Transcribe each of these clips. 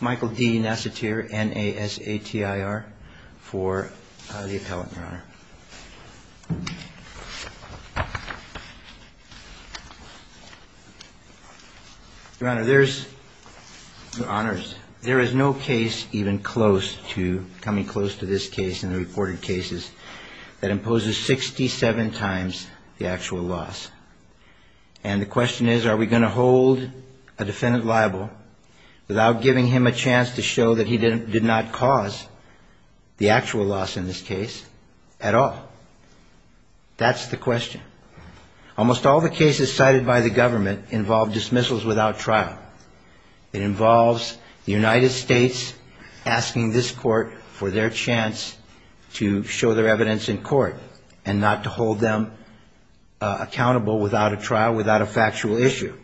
Michael D. Nassatir, N-A-S-A-T-I-R, for the appellate, Your Honor. Your Honor, there's, Your Honors, there is no case even close to, coming close to this case in the reported cases, that imposes 67 times the actual loss. And the question is, are we going to hold a defendant liable without giving him a chance to show that he did not cause the actual loss in this case at all? That's the question. Almost all the cases cited by the government involve dismissals without trial. It involves the United States asking this court for their chance to show their evidence in court and not to hold them accountable without a trial, without a factual issue.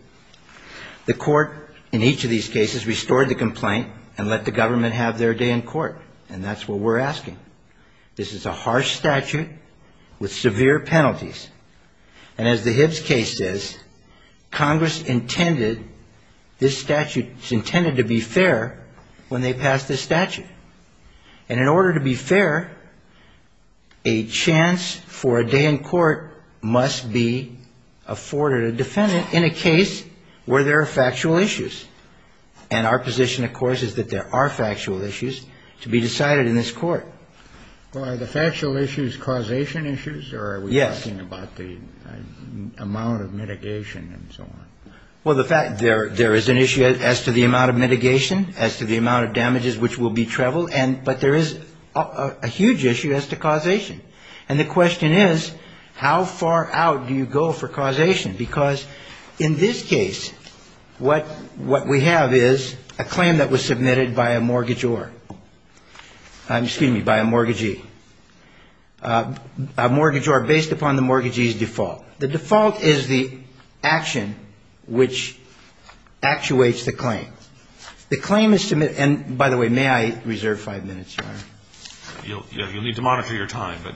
The court in each of these cases restored the complaint and let the government have their day in court. And that's what we're asking. This is a harsh statute with severe penalties. And as the Hibbs case says, Congress intended, this statute is intended to be fair when they pass this statute. And in order to be fair, a chance for a day in court must be afforded a defendant in a case where there are factual issues. And our position, of course, is that there are factual issues to be decided in this court. Well, are the factual issues causation issues? Yes. Or are we talking about the amount of mitigation and so on? Well, there is an issue as to the amount of mitigation, as to the amount of damages which will be traveled, but there is a huge issue as to causation. And the question is, how far out do you go for causation? Because in this case, what we have is a claim that was submitted by a mortgagee, a mortgage or based upon the mortgagee's default. The default is the action which actuates the claim. The claim is submitted, and by the way, may I reserve five minutes, Your Honor? You'll need to monitor your time, but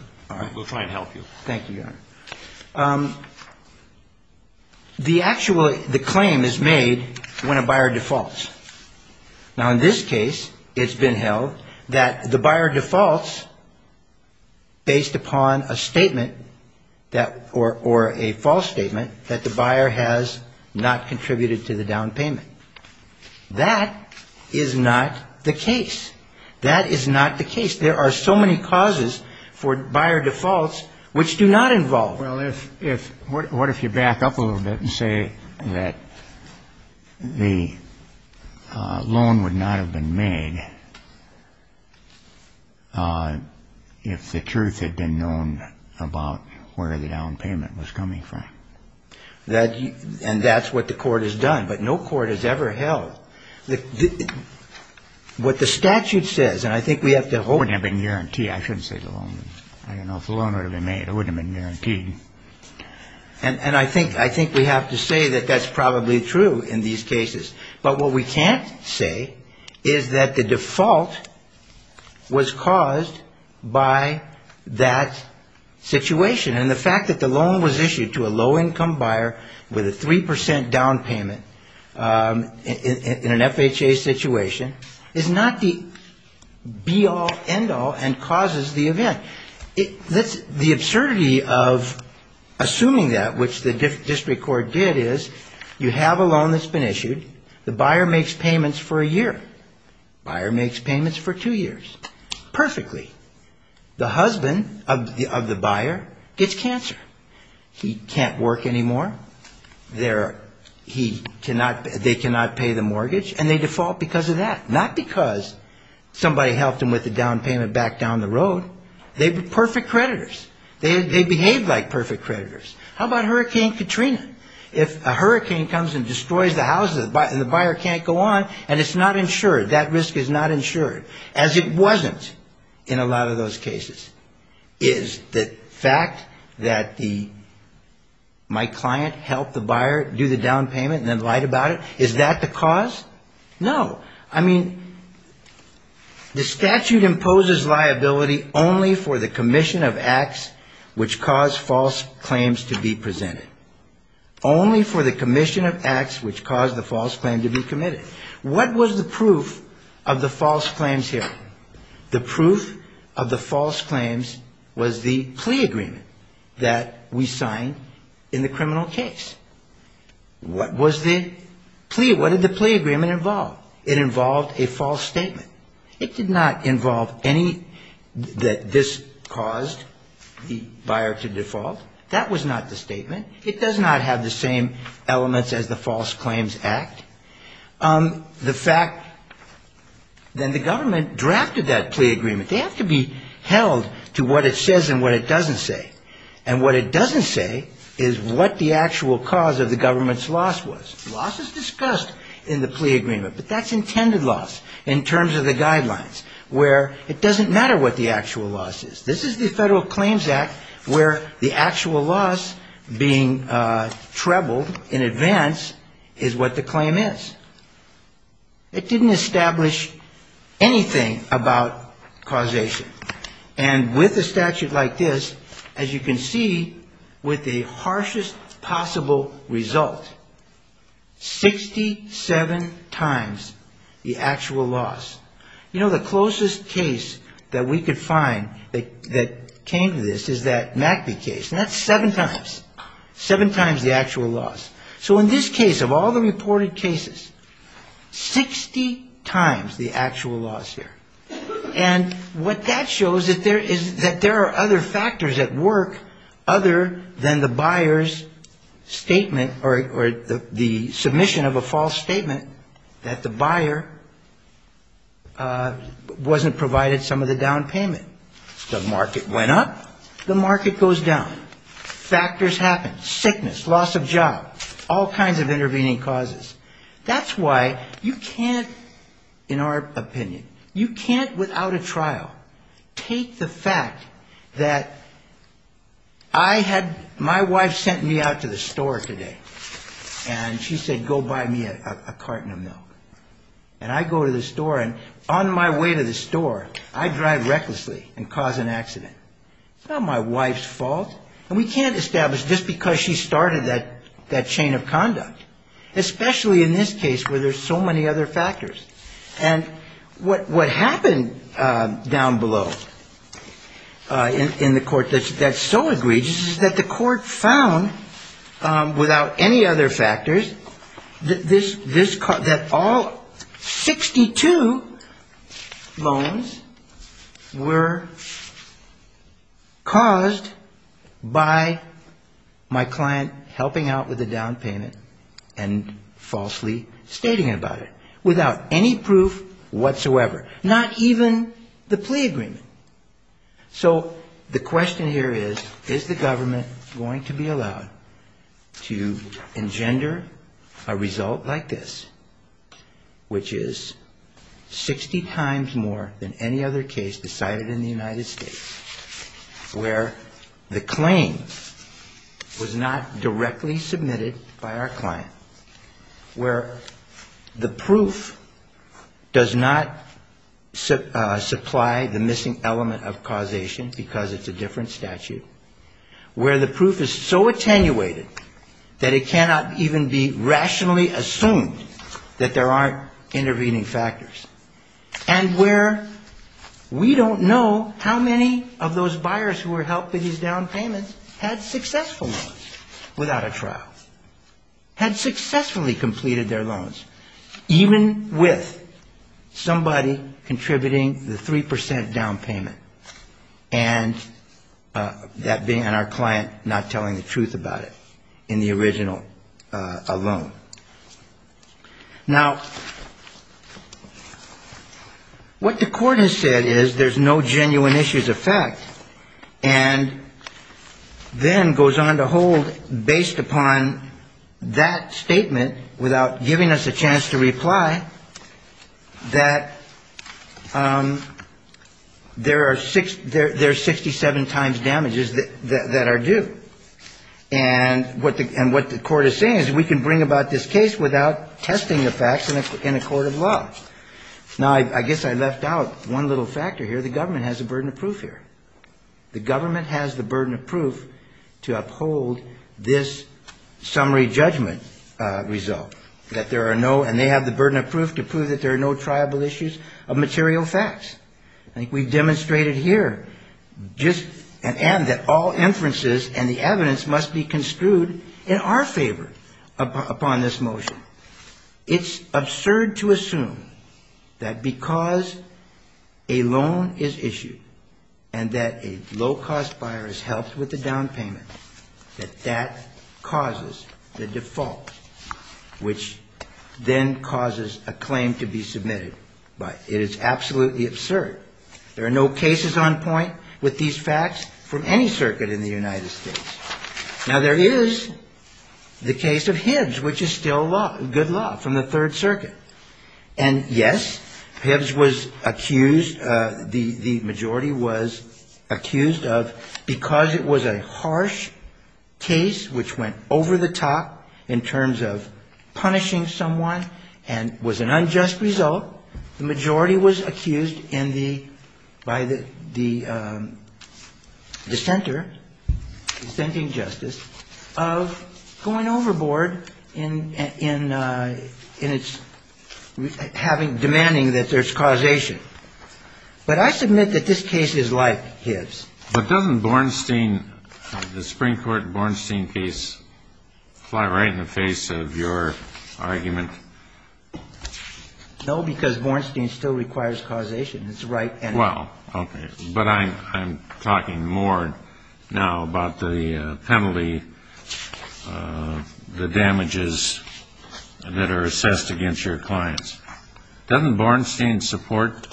we'll try and help you. Thank you, Your Honor. The actual claim is made when a buyer defaults. Now, in this case, it's been held that the buyer defaults based upon a statement or a false statement that the buyer has not contributed to the down payment. That is not the case. That is not the case. There are so many causes for buyer defaults which do not involve. Well, what if you back up a little bit and say that the loan would not have been made if the truth had been known about where the down payment was coming from? And that's what the court has done, but no court has ever held. What the statute says, and I think we have to hold. It wouldn't have been guaranteed. I shouldn't say the loan. I don't know if the loan would have been made. It wouldn't have been guaranteed. And I think we have to say that that's probably true in these cases. But what we can't say is that the default was caused by that situation. And the fact that the loan was issued to a low-income buyer with a 3% down payment in an FHA situation is not the be-all, end-all and causes the event. The absurdity of assuming that, which the district court did, is you have a loan that's been issued. The buyer makes payments for a year. Buyer makes payments for two years. Perfectly. The husband of the buyer gets cancer. He can't work anymore. They cannot pay the mortgage, and they default because of that. Not because somebody helped him with the down payment back down the road. They're perfect creditors. They behave like perfect creditors. How about Hurricane Katrina? If a hurricane comes and destroys the houses and the buyer can't go on, and it's not insured, that risk is not insured, as it wasn't in a lot of those cases. Is the fact that my client helped the buyer do the down payment and then lied about it, is that the cause? No. I mean, the statute imposes liability only for the commission of acts which cause false claims to be presented. Only for the commission of acts which cause the false claim to be committed. What was the proof of the false claims here? The proof of the false claims was the plea agreement that we signed in the criminal case. What was the plea? What did the plea agreement involve? It involved a false statement. It did not involve any that this caused the buyer to default. That was not the statement. It does not have the same elements as the False Claims Act. The fact that the government drafted that plea agreement, they have to be held to what it says and what it doesn't say. And what it doesn't say is what the actual cause of the government's loss was. Loss is discussed in the plea agreement, but that's intended loss in terms of the guidelines, where it doesn't matter what the actual loss is. This is the Federal Claims Act where the actual loss being trebled in advance is what the claim is. It didn't establish anything about causation. And with a statute like this, as you can see, with the harshest possible result, 67 times the actual loss. You know, the closest case that we could find that came to this is that Mackey case. And that's seven times, seven times the actual loss. So in this case, of all the reported cases, 60 times the actual loss here. And what that shows is that there are other factors at work other than the buyer's statement or the submission of a false statement that the buyer wasn't provided some of the down payment. The market went up. The market goes down. Factors happen. Sickness, loss of job, all kinds of intervening causes. That's why you can't, in our opinion, you can't, without a trial, take the fact that I had my wife sent me out to the store today. And she said, go buy me a carton of milk. And I go to the store, and on my way to the store, I drive recklessly and cause an accident. It's not my wife's fault. And we can't establish just because she started that chain of conduct, especially in this case where there's so many other factors. And what happened down below in the court that's so egregious is that the court found, without any other factors, that all 62 loans were caused by my client helping out with the down payment and falsely stating about it, without any proof whatsoever. Not even the plea agreement. So the question here is, is the government going to be allowed to engender a result like this, which is 60 times more than any other case decided in the United States, where the claim was not directly submitted by our client, where the proof does not supply the missing element of causation because it's a different statute, where the proof is so attenuated that it cannot even be rationally assumed that there aren't intervening factors, and where we don't know how many of those buyers who were helped with these down payments had successful loans without a trial, had successfully completed their loans, even with somebody contributing the 3% down payment, and that being on our client not telling the truth about it in the original loan. Now, what the court has said is there's no genuineness in this case. There's no genuineness in this case. There's no genuineness in the fact that there are 67 times damages that are due. And what the court is saying is we can bring about this case without testing the facts in a court of law. Now, I guess I left out one little factor here. The government has a burden of proof. The government has the burden of proof to uphold this summary judgment result, that there are no, and they have the burden of proof to prove that there are no triable issues of material facts. I think we've demonstrated here just, and that all inferences and the evidence must be construed in our favor upon this motion. It's absurd to assume that because a loan is issued and that a low-cost buyer is helped with a down payment, that that causes the default, which then causes a claim to be submitted. It is absolutely absurd. There are no cases on point with these facts from any circuit in the United States. Now, there is the case of Hibbs, which is still good law from the beginning. Hibbs was accused, the majority was accused of, because it was a harsh case which went over the top in terms of punishing someone and was an unjust result, the majority was accused in the, by the dissenter, dissenting justice, of going overboard in its having, demanding that there be no triable issues of material facts. Now, I'm not saying that this case requires causation. But I submit that this case is like Hibbs. Kennedy. But doesn't Bornstein, the Supreme Court Bornstein case, fly right in the face of your argument? Well, because Bornstein still requires causation. It's right and right. Kennedy. Well, okay. But I'm talking more now about the penalty, the damages that are assessed against your clients. Doesn't Bornstein still require causation?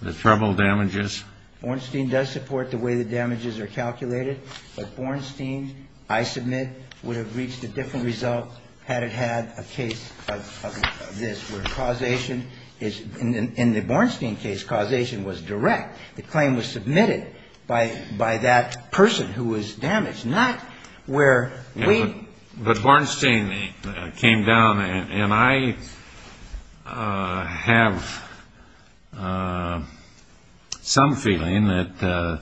Does Bornstein support the treble damages? Bornstein does support the way the damages are calculated. But Bornstein, I submit, would have reached a different result had it had a case of this, where causation is — in the Bornstein case, causation was direct. The claim was submitted by that person who was damaged, not where we — But Bornstein came down, and I have some feeling that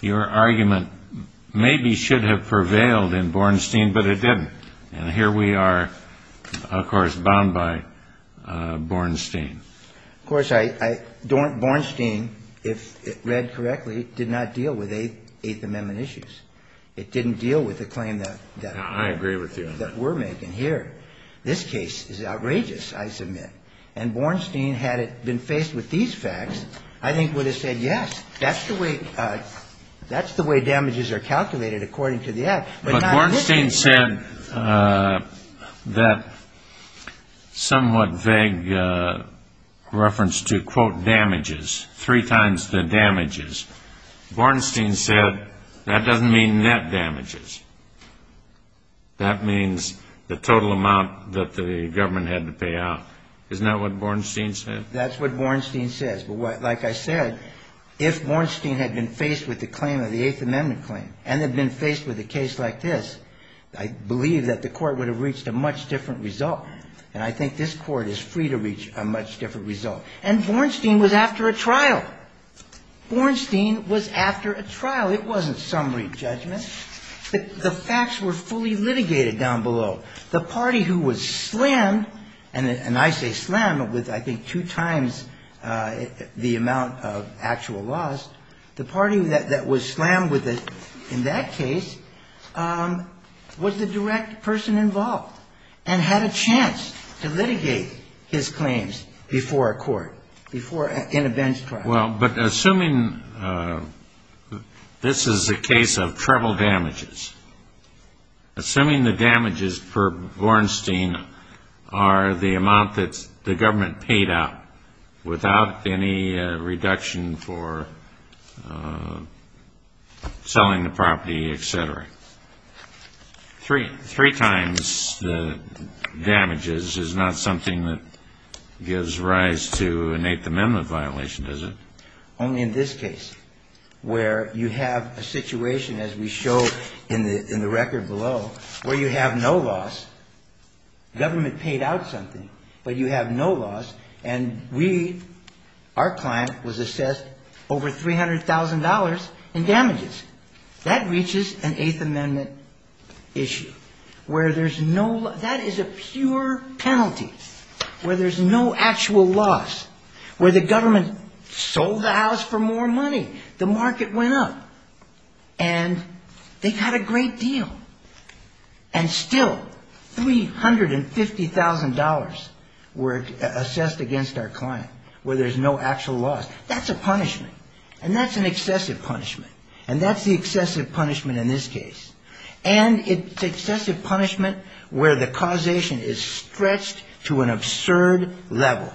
your argument maybe should have prevailed in Bornstein, but it didn't. And here we are, of course, bound by Bornstein. Of course, I — Bornstein, if read correctly, did not deal with Eighth Amendment issues. It didn't deal with the claim that — I agree with you on that. — that we're making here. This case is outrageous, I submit. And Bornstein, had it been faced with these facts, I think would have said, yes, that's the way — that's the way damages are calculated, according to the Act. But not this case. But Bornstein said that somewhat vague reference to, quote, damages, three times the damages. Bornstein said that doesn't mean net damages. That means the total amount that the government had to pay out. Isn't that what Bornstein said? That's what Bornstein says. But what — like I said, if Bornstein had been faced with the claim of the Eighth Amendment claim, and had been faced with a case like this, I believe that the Court would have reached a much different result. And I think this Court is free to reach a much different result. And Bornstein was after a trial. Bornstein was after a trial. It wasn't summary judgment. The facts were fully litigated down below. The party who was slammed — and I say slammed with, I think, two times the amount of actual loss. The party that was slammed in that case was the direct person involved, and had a chance to litigate his claims before a court, before — in a bench trial. Well, but assuming — this is a case of treble damages. Assuming the damages per Bornstein are the amount that the government paid out, without any reduction for selling the property, et cetera. Three times the damages is not something that gives rise to an Eighth Amendment violation, is it? Only in this case, where you have a situation, as we show in the record below, where you have no loss. Government paid out something, but you have no loss. And we — our client was assessed over $300,000 in damages. That reaches an Eighth Amendment issue, where there's no — that is a pure penalty, where there's no actual loss. Where the government sold the house for more money. The market went up. And they got a great deal. And still, $350,000 were assessed against our client, where there's no actual loss. That's a punishment. And that's an excessive punishment. And that's the excessive punishment in this case. And it's excessive punishment where the causation is stretched to an absurd level.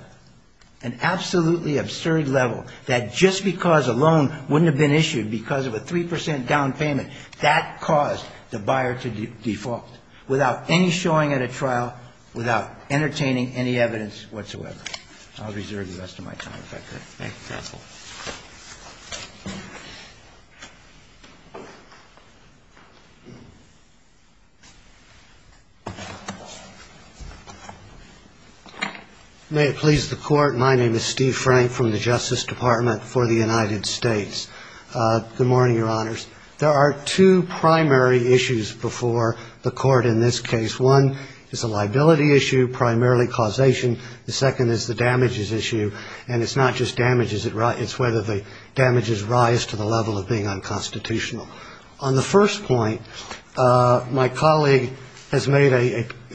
An absolutely absurd level, that just because a loan wouldn't have been issued because of a 3 percent down payment, that caused the buyer to default. Without any showing at a trial, without entertaining any evidence whatsoever. I'll reserve the rest of my time. Thank you, counsel. May it please the Court, my name is Steve Frank from the Justice Department for the United States. Good morning, Your Honors. There are two primary issues before the Court in this case. It's not just damages. It's whether the damages rise to the level of being unconstitutional. On the first point, my colleague has made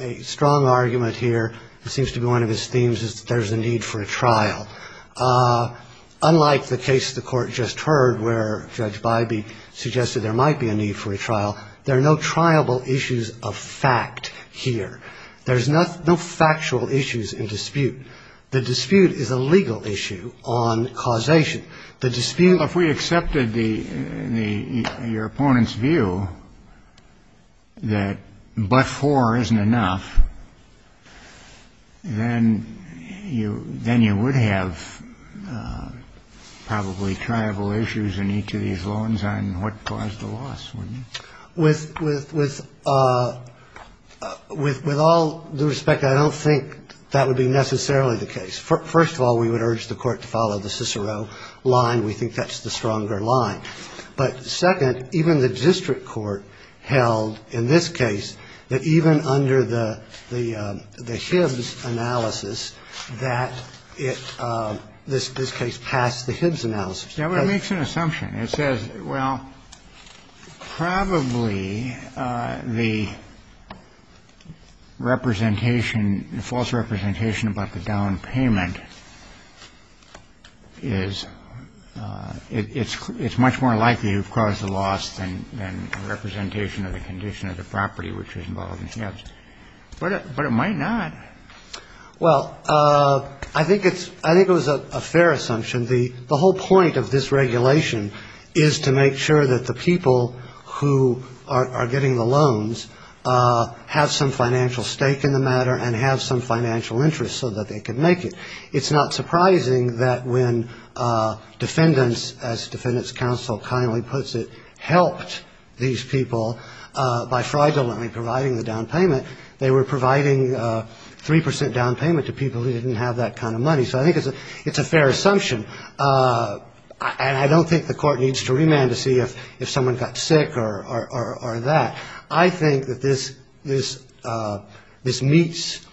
a strong argument here. It seems to be one of his themes is that there's a need for a trial. Unlike the case the Court just heard, where Judge Bybee suggested there might be a need for a trial, there are no triable issues of fact here. There's no factual issues in dispute. The dispute is a legal issue on causation. If we accepted your opponent's view that but-for isn't enough, then you would have probably triable issues in each of these loans on what caused the loss, wouldn't it? With all due respect, I don't think that would be necessarily the case. First of all, we would urge the Court to follow the Cicero line. We think that's the stronger line. But second, even the district court held in this case that even under the Hibbs analysis that it – this case passed the Hibbs analysis. It makes an assumption. It says, well, probably the representation – the false representation about the down payment is – it's much more likely you've caused the loss than representation of the condition of the property which was involved in Hibbs. But it might not. Well, I think it's – I think it was a fair assumption. The whole point of this regulation is to make sure that the people who are getting the loans have some financial stake in the matter and have some financial interest so that they can make it. It's not surprising that when defendants, as defendants counsel kindly puts it, helped these people by fraudulently providing the down payment, they were providing 3 percent down payment to people who didn't have that kind of money. So I think it's a fair assumption. And I don't think the Court needs to remand to see if someone got sick or that. I think that this meets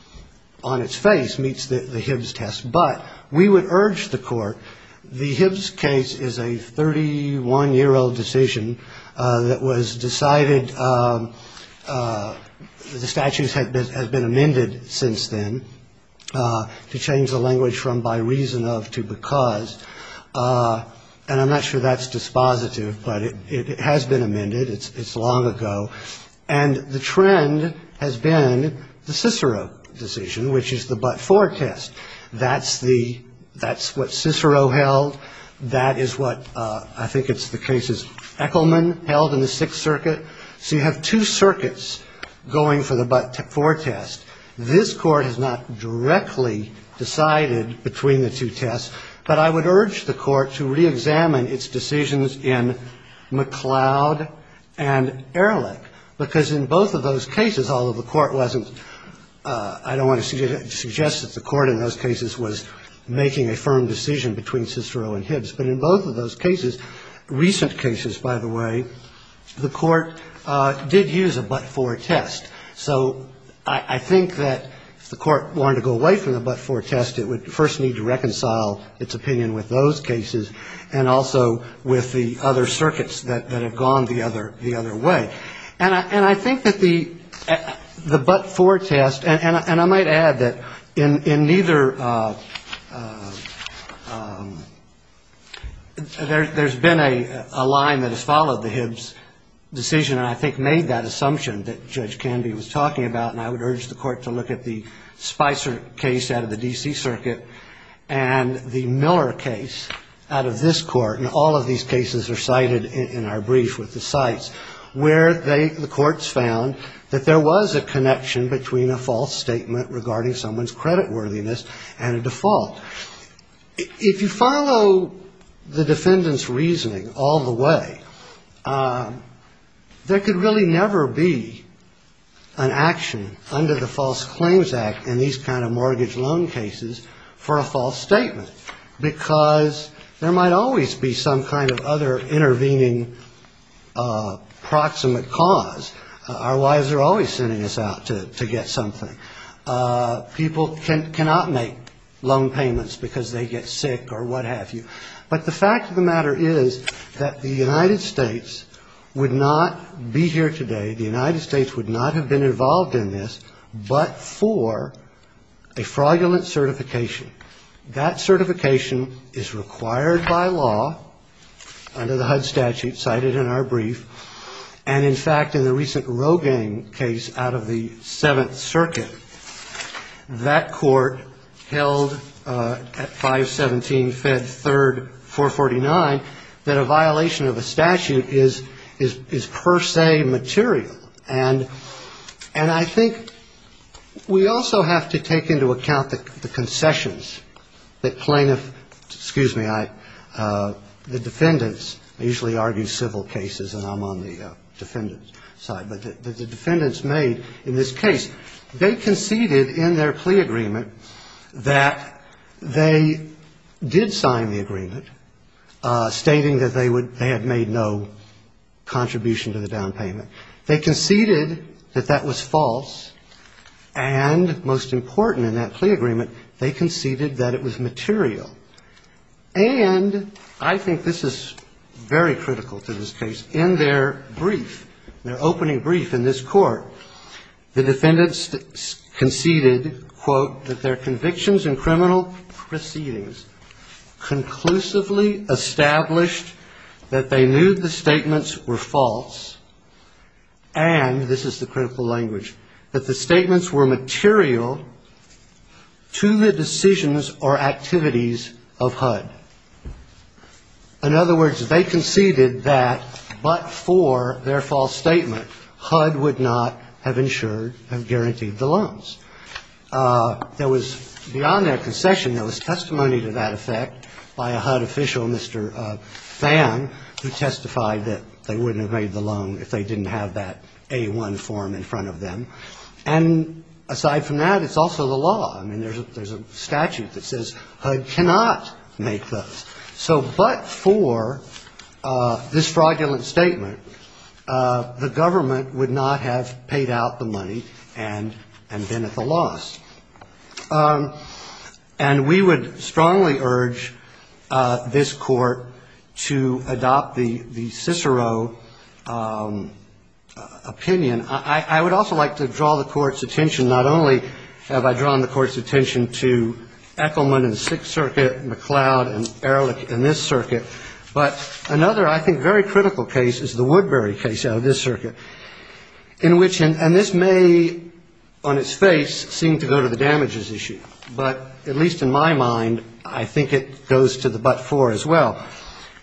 on its face, meets the Hibbs test. But we would urge the Court – the Hibbs case is a 31-year-old decision that was decided – the statutes have been amended since then to change the language from by reason of to because. And I'm not sure that's dispositive, but it has been amended. It's long ago. And the trend has been the Cicero decision, which is the but-for test. That's the – that's what Cicero held. That is what – I think it's the cases Echelman held in the Sixth Circuit. So you have two circuits going for the but-for test. This Court has not directly decided between the two tests. But I would urge the Court to reexamine its decisions in McLeod and Ehrlich. I don't want to suggest that the Court in those cases was making a firm decision between Cicero and Hibbs. But in both of those cases, recent cases, by the way, the Court did use a but-for test. So I think that if the Court wanted to go away from the but-for test, it would first need to reconcile its opinion with those cases and also with the other circuits that have gone the other way. And I think that the but-for test – and I might add that in neither – there's been a line that has followed the Hibbs decision and I think made that assumption that Judge Canby was talking about, and I would urge the Court to look at the Spicer case out of the D.C. Circuit and the Miller case out of this Court. And all of these cases are cited in our brief with the cites, where the Courts found that there was a connection between a false statement regarding someone's creditworthiness and a default. If you follow the defendant's reasoning all the way, there could really never be an action under the False Claims Act in these kind of mortgage loan cases for a false statement because there might always be some kind of other intervening proximate cause. Our wives are always sending us out to get something. People cannot make loan payments because they get sick or what have you. But the fact of the matter is that the United States would not be here today, the United States would not have been involved in this but for a fraudulent certification. That certification is required by law under the HUD statute cited in our brief. And, in fact, in the recent Rogaine case out of the Seventh Circuit, that Court held at 517 Fed 3rd, 449, that a violation of a statute is per se material. And I think we also have to take into account the concessions that plaintiffs, excuse me, the defendants, I usually argue civil cases and I'm on the defendant's side, but the defendants made in this case, they conceded in their plea agreement that they did sign the agreement stating that they had made no contribution to the down payment. They conceded that that was false and, most important in that plea agreement, they conceded that it was material. And I think this is very critical to this case. In their brief, their opening brief in this Court, the defendants conceded, quote, that their convictions and criminal proceedings conclusively established that they knew the statements were false. And, this is the critical language, that the statements were material to the decisions or activities of HUD. In other words, they conceded that but for their false statement, HUD would not have insured and guaranteed the loans. There was, beyond their concession, there was testimony to that effect by a HUD official, Mr. Phan, who testified that they wouldn't have made the loan if they didn't have that A-1 form in front of them. And, aside from that, it's also the law. I mean, there's a statute that says HUD cannot make those. So, but for this fraudulent statement, the government would not have paid out the money and been at the loss. And we would strongly urge this Court to adopt the Cicero opinion. I would also like to draw the Court's attention, not only have I drawn the Court's attention to Echelman in the Sixth Circuit, McLeod and Ehrlich in this circuit, but another, I think, very critical case is the Woodbury case out of this circuit. And this may, on its face, seem to go to the damages issue, but at least in my mind, I think it goes to the but for as well.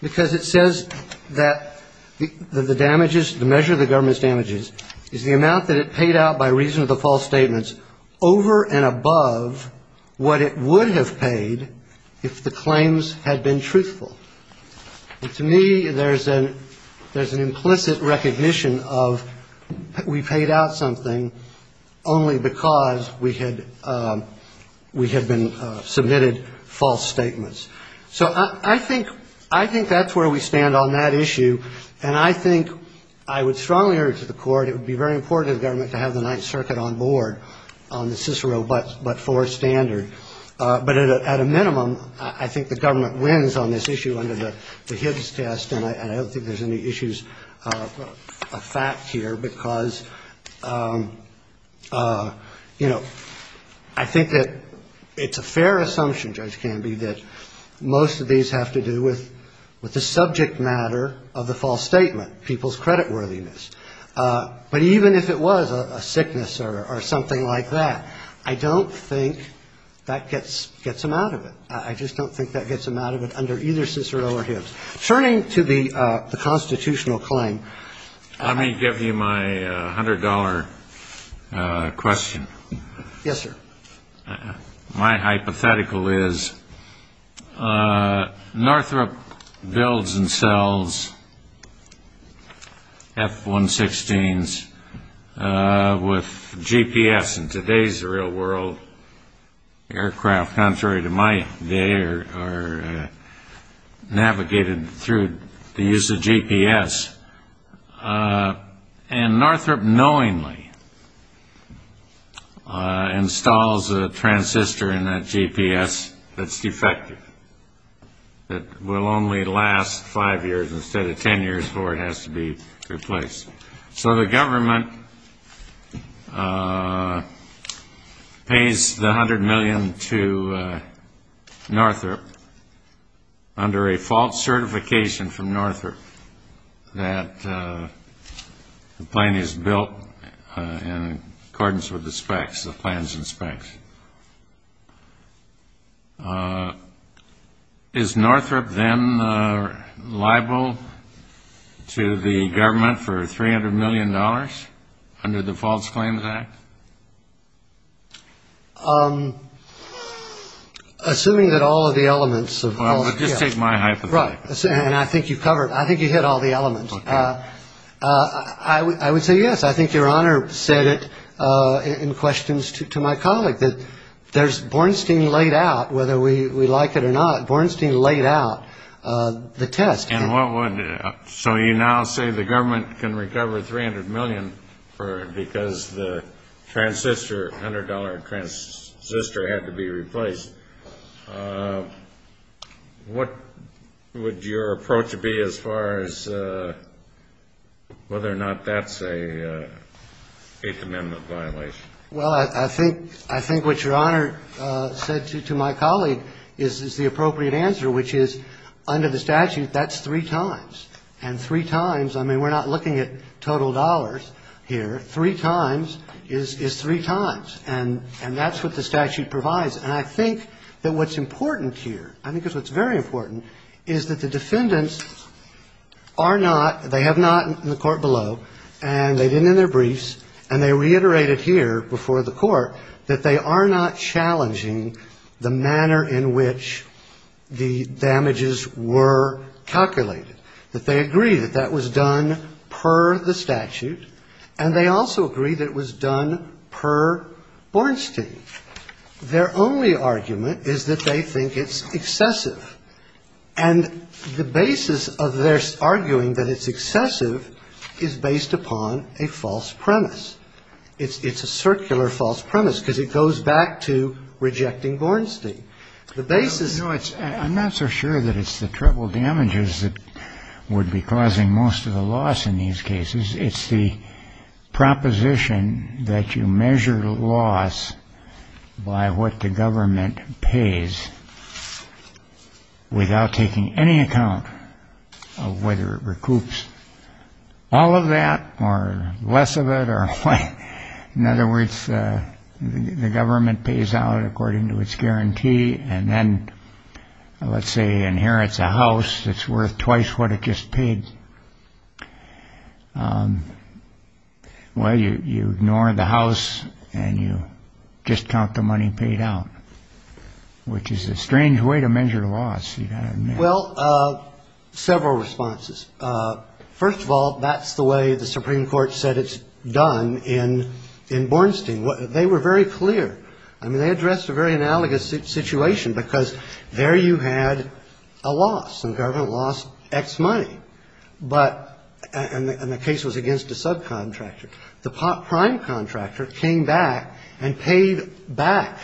Because it says that the damages, the measure of the government's damages is the amount that it paid out by reason of the false statements over and above what it would have paid if the claims had been truthful. To me, there's an implicit recognition of we paid out something only because we had been submitted false statements. So I think that's where we stand on that issue, and I think I would strongly urge the Court, it would be very important to the government to have the Ninth Circuit on board on the Cicero but for standard. But at a minimum, I think the government wins on this issue under the Hibbs test, and I don't think there's any issues of fact here, because, you know, I think that it's a fair assumption, Judge Canby, that most of these have to do with the subject matter of the false statement, people's creditworthiness. But even if it was a sickness or something like that, I don't think that gets them out of it. I just don't think that gets them out of it under either Cicero or Hibbs. Turning to the constitutional claim. Let me give you my $100 question. Yes, sir. My hypothetical is Northrop builds and sells F-116s with GPS in today's real world. Aircraft, contrary to my day, are navigated through the use of GPS. And Northrop knowingly installs a transistor in that GPS that's defective, that will only last five years instead of 10 years before it has to be replaced. So the government pays the $100 million to Northrop under a false certification from Northrop assuming that the plane is built in accordance with the specs, the plans and specs. Is Northrop then liable to the government for $300 million under the False Claims Act? Assuming that all of the elements of all the... I would say yes. I think Your Honor said it in questions to my colleague, that there's Bornstein laid out, whether we like it or not, Bornstein laid out the test. So you now say the government can recover $300 million because the transistor, $100 transistor had to be replaced. What would your approach be as far as whether or not that's a Eighth Amendment violation? Well, I think what Your Honor said to my colleague is the appropriate answer, which is under the statute, that's three times. And three times, I mean, we're not looking at total dollars here. Three times is three times, and that's what the statute provides. And I think that what's important here, I think that's what's very important, is that the defendants are not, they have not in the court below, and they didn't in their briefs, and they reiterated here before the court, that they are not challenging the manner in which the damages were calculated. That they agree that that was done per the statute, and they also agree that it was done per Bornstein. Their only argument is that they think it's excessive. And the basis of their arguing that it's excessive is based upon a false premise. It's a circular false premise, because it goes back to rejecting Bornstein. I'm not so sure that it's the treble damages that would be causing most of the loss in these cases. It's the proposition that you measure loss by what the government pays without taking any account of whether it recoups all of that, or less of it, or what. In other words, the government pays out according to its guarantee, and then, let's say, inherits a house that's worth twice what it just paid. Well, you ignore the house, and you just count the money paid out, which is a strange way to measure loss, you've got to admit. Well, several responses. First of all, that's the way the Supreme Court said it's done in Bornstein. They were very clear. I mean, they addressed a very analogous situation, because there you had a loss. The government lost X money, and the case was against a subcontractor. The prime contractor came back and paid back.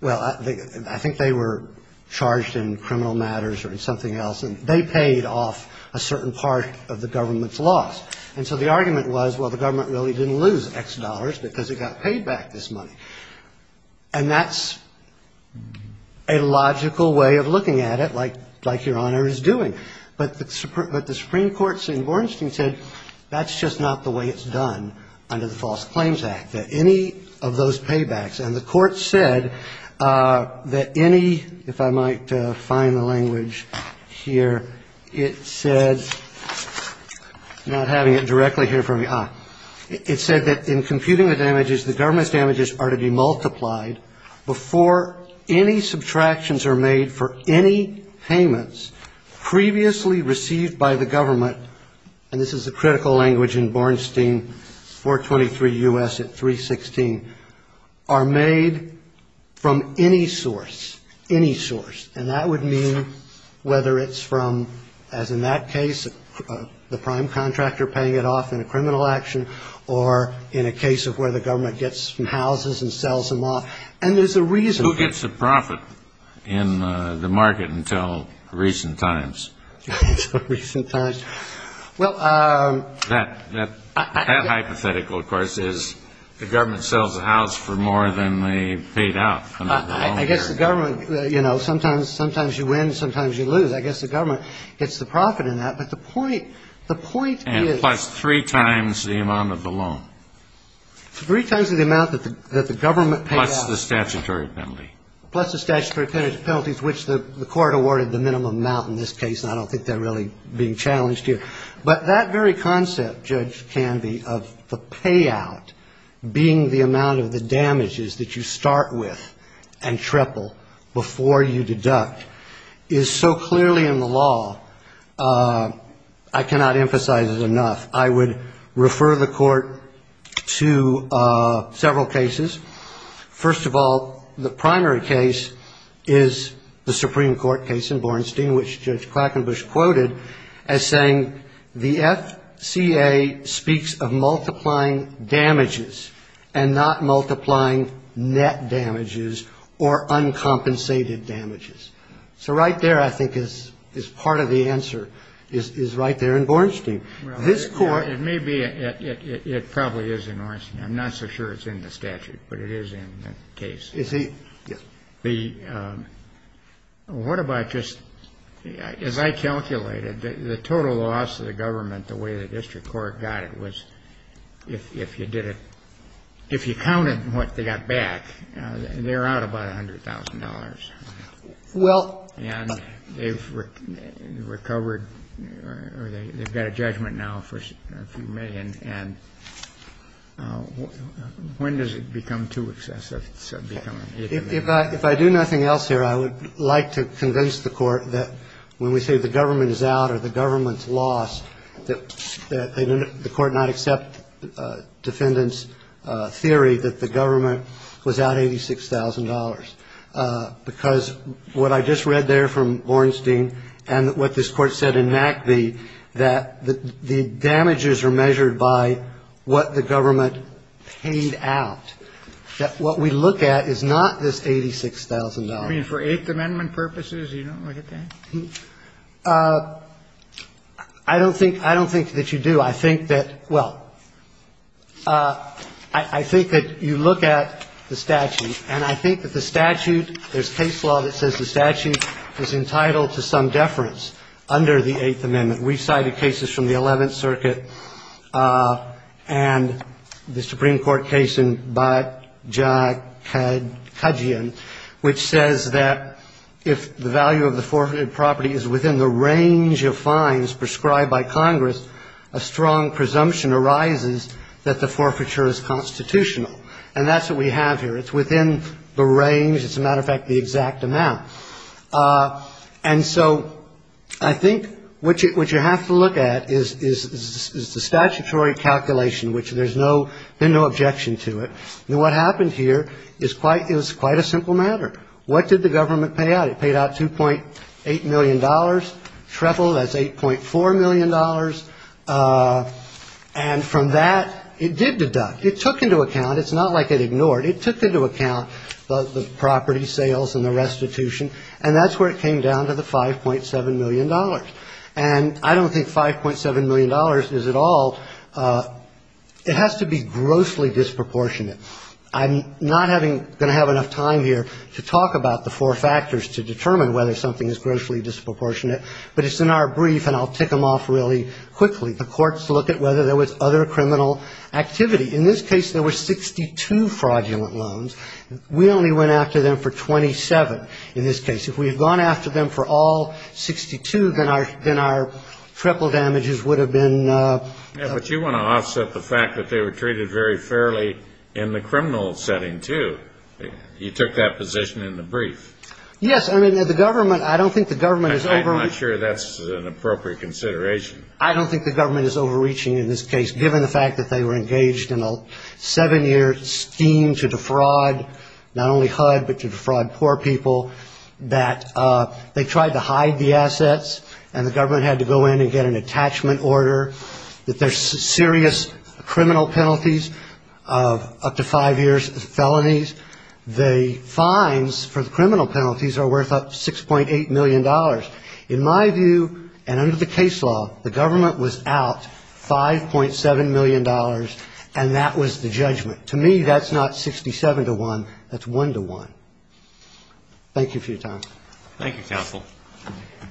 Well, I think they were charged in criminal matters or in something else, and they paid off a certain part of the government's loss. And so the argument was, well, the government really didn't lose X dollars because it got paid back this money. And that's a logical way of looking at it, like Your Honor is doing. But the Supreme Court in Bornstein said that's just not the way it's done under the False Claims Act, that any of those paybacks, and the court said that any, if I might find the language here, it said, not having it directly here for me, it said that in computing the damages, the government's damages are to be multiplied before any subtractions are made for any payments, previously received by the government, and this is a critical language in Bornstein, 423 U.S. at 316, are made from any source, any source. And that would mean whether it's from, as in that case, the prime contractor paying it off in a criminal action, or in a case of where the government gets some houses and sells them off. And there's a reason. Who gets the profit in the market until recent times? Until recent times. That hypothetical, of course, is the government sells the house for more than they paid out. I guess the government, you know, sometimes you win, sometimes you lose. I guess the government gets the profit in that, but the point is... And plus three times the amount of the loan. Three times the amount that the government paid out. Plus the statutory penalty. Plus the statutory penalties, which the court awarded the minimum amount in this case, and I don't think they're really being challenged here. But that very concept, Judge Canvey, of the payout being the amount of the damages that you start with and triple before you deduct, is so clearly in the law, I cannot emphasize it enough. I would refer the court to several cases. First of all, the primary case is the Supreme Court case in Bornstein, which Judge Quackenbush quoted as saying, the FCA speaks of multiplying damages and not multiplying net damages or uncompensated damages. So right there, I think, is part of the answer, is right there in Bornstein. This court... As I calculated, the total loss to the government, the way the district court got it, was if you did it... If you counted what they got back, they're out about $100,000. And they've recovered... They've got a judgment now for a few million, and when does it become too excessive? If I do nothing else here, I would like to convince the court that when we say the government is out or the government's lost, that the court not accept defendants' theory that the government was out $86,000. Because what I just read there from Bornstein and what this court said in Mackbee, that the damages are measured by what the government paid out. That what we look at is not this $86,000. I mean, for Eighth Amendment purposes, you don't look at that? I don't think that you do. I think that, well, I think that you look at the statute, and I think that the statute, there's case law that says the statute is entitled to some deference under the Eighth Amendment. We've cited cases from the Eleventh Circuit and the Supreme Court case in Bajajian, which says that if the value of the forfeited property is within the range of fines prescribed by Congress, a strong presumption arises that the forfeiture is constitutional. And that's what we have here. It's within the range, as a matter of fact, the exact amount. And so I think what you have to look at is the statutory calculation, which there's no objection to it. What happened here is quite a simple matter. What did the government pay out? It paid out $2.8 million. Treble, that's $8.4 million. And from that, it did deduct. It took into account, it's not like it ignored, it took into account the property sales and the restitution, and that's where it came down to the $5.7 million. And I don't think $5.7 million is at all, it has to be grossly disproportionate. I'm not going to have enough time here to talk about the four factors to determine whether something is grossly disproportionate, but it's in our brief, and I'll tick them off really quickly. The courts look at whether there was other criminal activity. In this case, there were 62 fraudulent loans. We only went after them for 27 in this case. If we had gone after them for all 62, then our triple damages would have been ---- But you want to offset the fact that they were treated very fairly in the criminal setting, too. You took that position in the brief. Yes, I mean, the government, I don't think the government is overreaching. I'm not sure that's an appropriate consideration. I don't think the government is overreaching in this case, given the fact that they were engaged in a seven-year scheme to defraud not only HUD, but to defraud poor people, that they tried to hide the assets, and the government had to go in and get an attachment order, that there's serious criminal penalties of up to five years of felonies, the fines for the criminal penalties are worth up to $6.8 million. In my view, and under the case law, the government was out $5.7 million, and that was the judgment. To me, that's not 67 to 1, that's 1 to 1. Thank you for your time. Thank you, counsel. Thank you.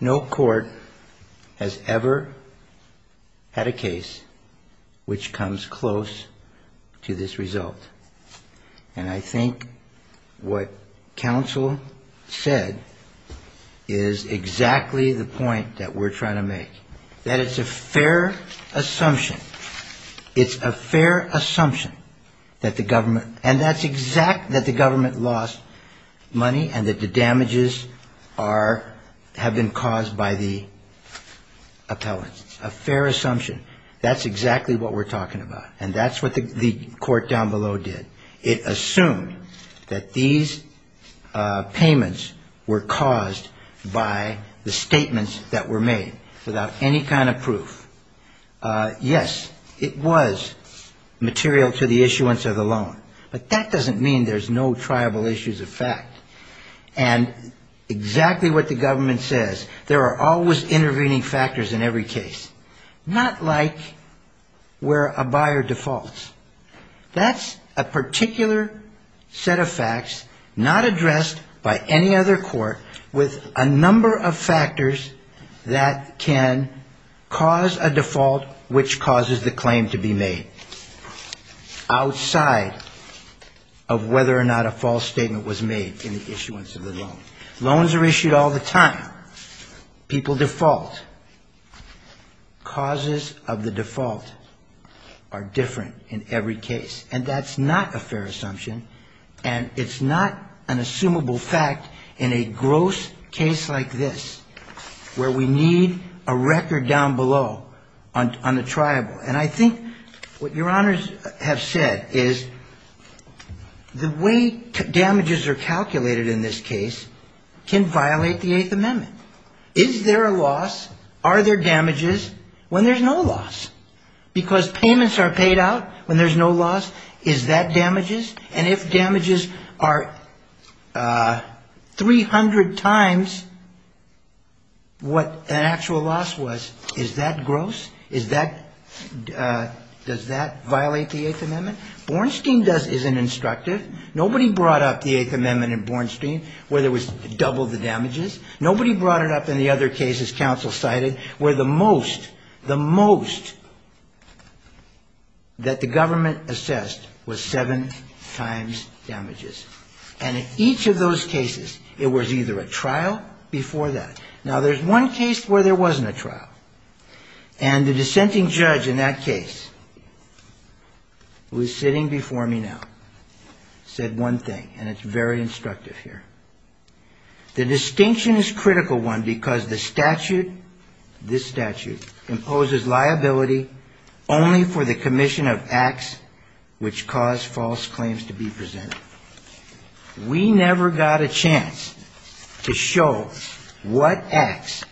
No court has ever had a case which comes close to this result. And I think what counsel said is exactly the point that we're trying to make. That it's a fair assumption, it's a fair assumption that the government, and that's exact, that the government lost money, and that the damages are, have been caused by the appellants. A fair assumption, that's exactly what we're talking about, and that's what the court down below did. It assumed that these payments were caused by the statements that were made. Without any kind of proof. Yes, it was material to the issuance of the loan. But that doesn't mean there's no triable issues of fact. And exactly what the government says, there are always intervening factors in every case. Not like where a buyer defaults. That's a particular set of facts not addressed by any other court with a number of factors that can cause a default which causes the claim to be made. Outside of whether or not a false statement was made in the issuance of the loan. Loans are issued all the time. People default. Causes of the default are different in every case. And that's not a fair assumption, and it's not an assumable fact in a gross case like this. Where we need a record down below on a triable. And I think what your honors have said is the way damages are calculated in this case can violate the Eighth Amendment. Is there a loss, are there damages, when there's no loss? Because payments are paid out when there's no loss. Is that damages? And if damages are 300 times what an actual loss was, is that gross? Does that violate the Eighth Amendment? Bornstein is an instructive. Nobody brought up the Eighth Amendment in Bornstein where there was double the damages. Nobody brought it up in the other cases counsel cited where the most, the most that the government assessed was seven times damages. And in each of those cases, it was either a trial before that. Now, there's one case where there wasn't a trial. And the dissenting judge in that case, who is sitting before me now, said one thing, and it's very instructive here. The distinction is a critical one because the statute, this statute, imposes liability only for the commission of acts which cause false claims to be presented. We never got a chance to show what acts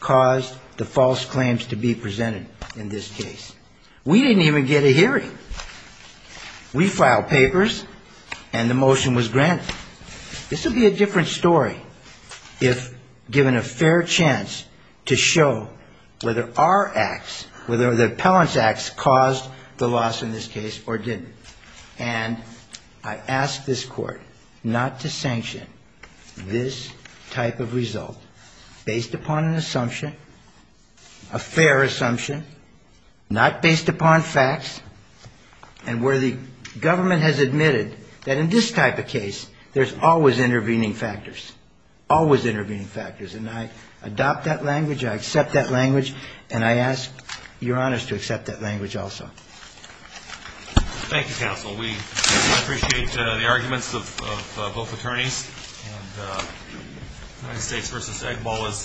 caused the false claims to be presented. In this case, we didn't even get a hearing. We filed papers, and the motion was granted. This would be a different story if given a fair chance to show whether our acts, whether the appellant's acts caused the loss in this case or didn't. And I ask this Court not to sanction this type of result based upon an assumption, based upon an assumption, based upon an assumption. A fair assumption, not based upon facts, and where the government has admitted that in this type of case, there's always intervening factors, always intervening factors. And I adopt that language, I accept that language, and I ask Your Honors to accept that language also. Thank you, counsel. We appreciate the arguments of both attorneys. United States v. Egg Bowl is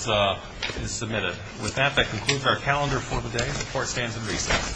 submitted. With that, that concludes our calendar for the day. The Court stands in recess.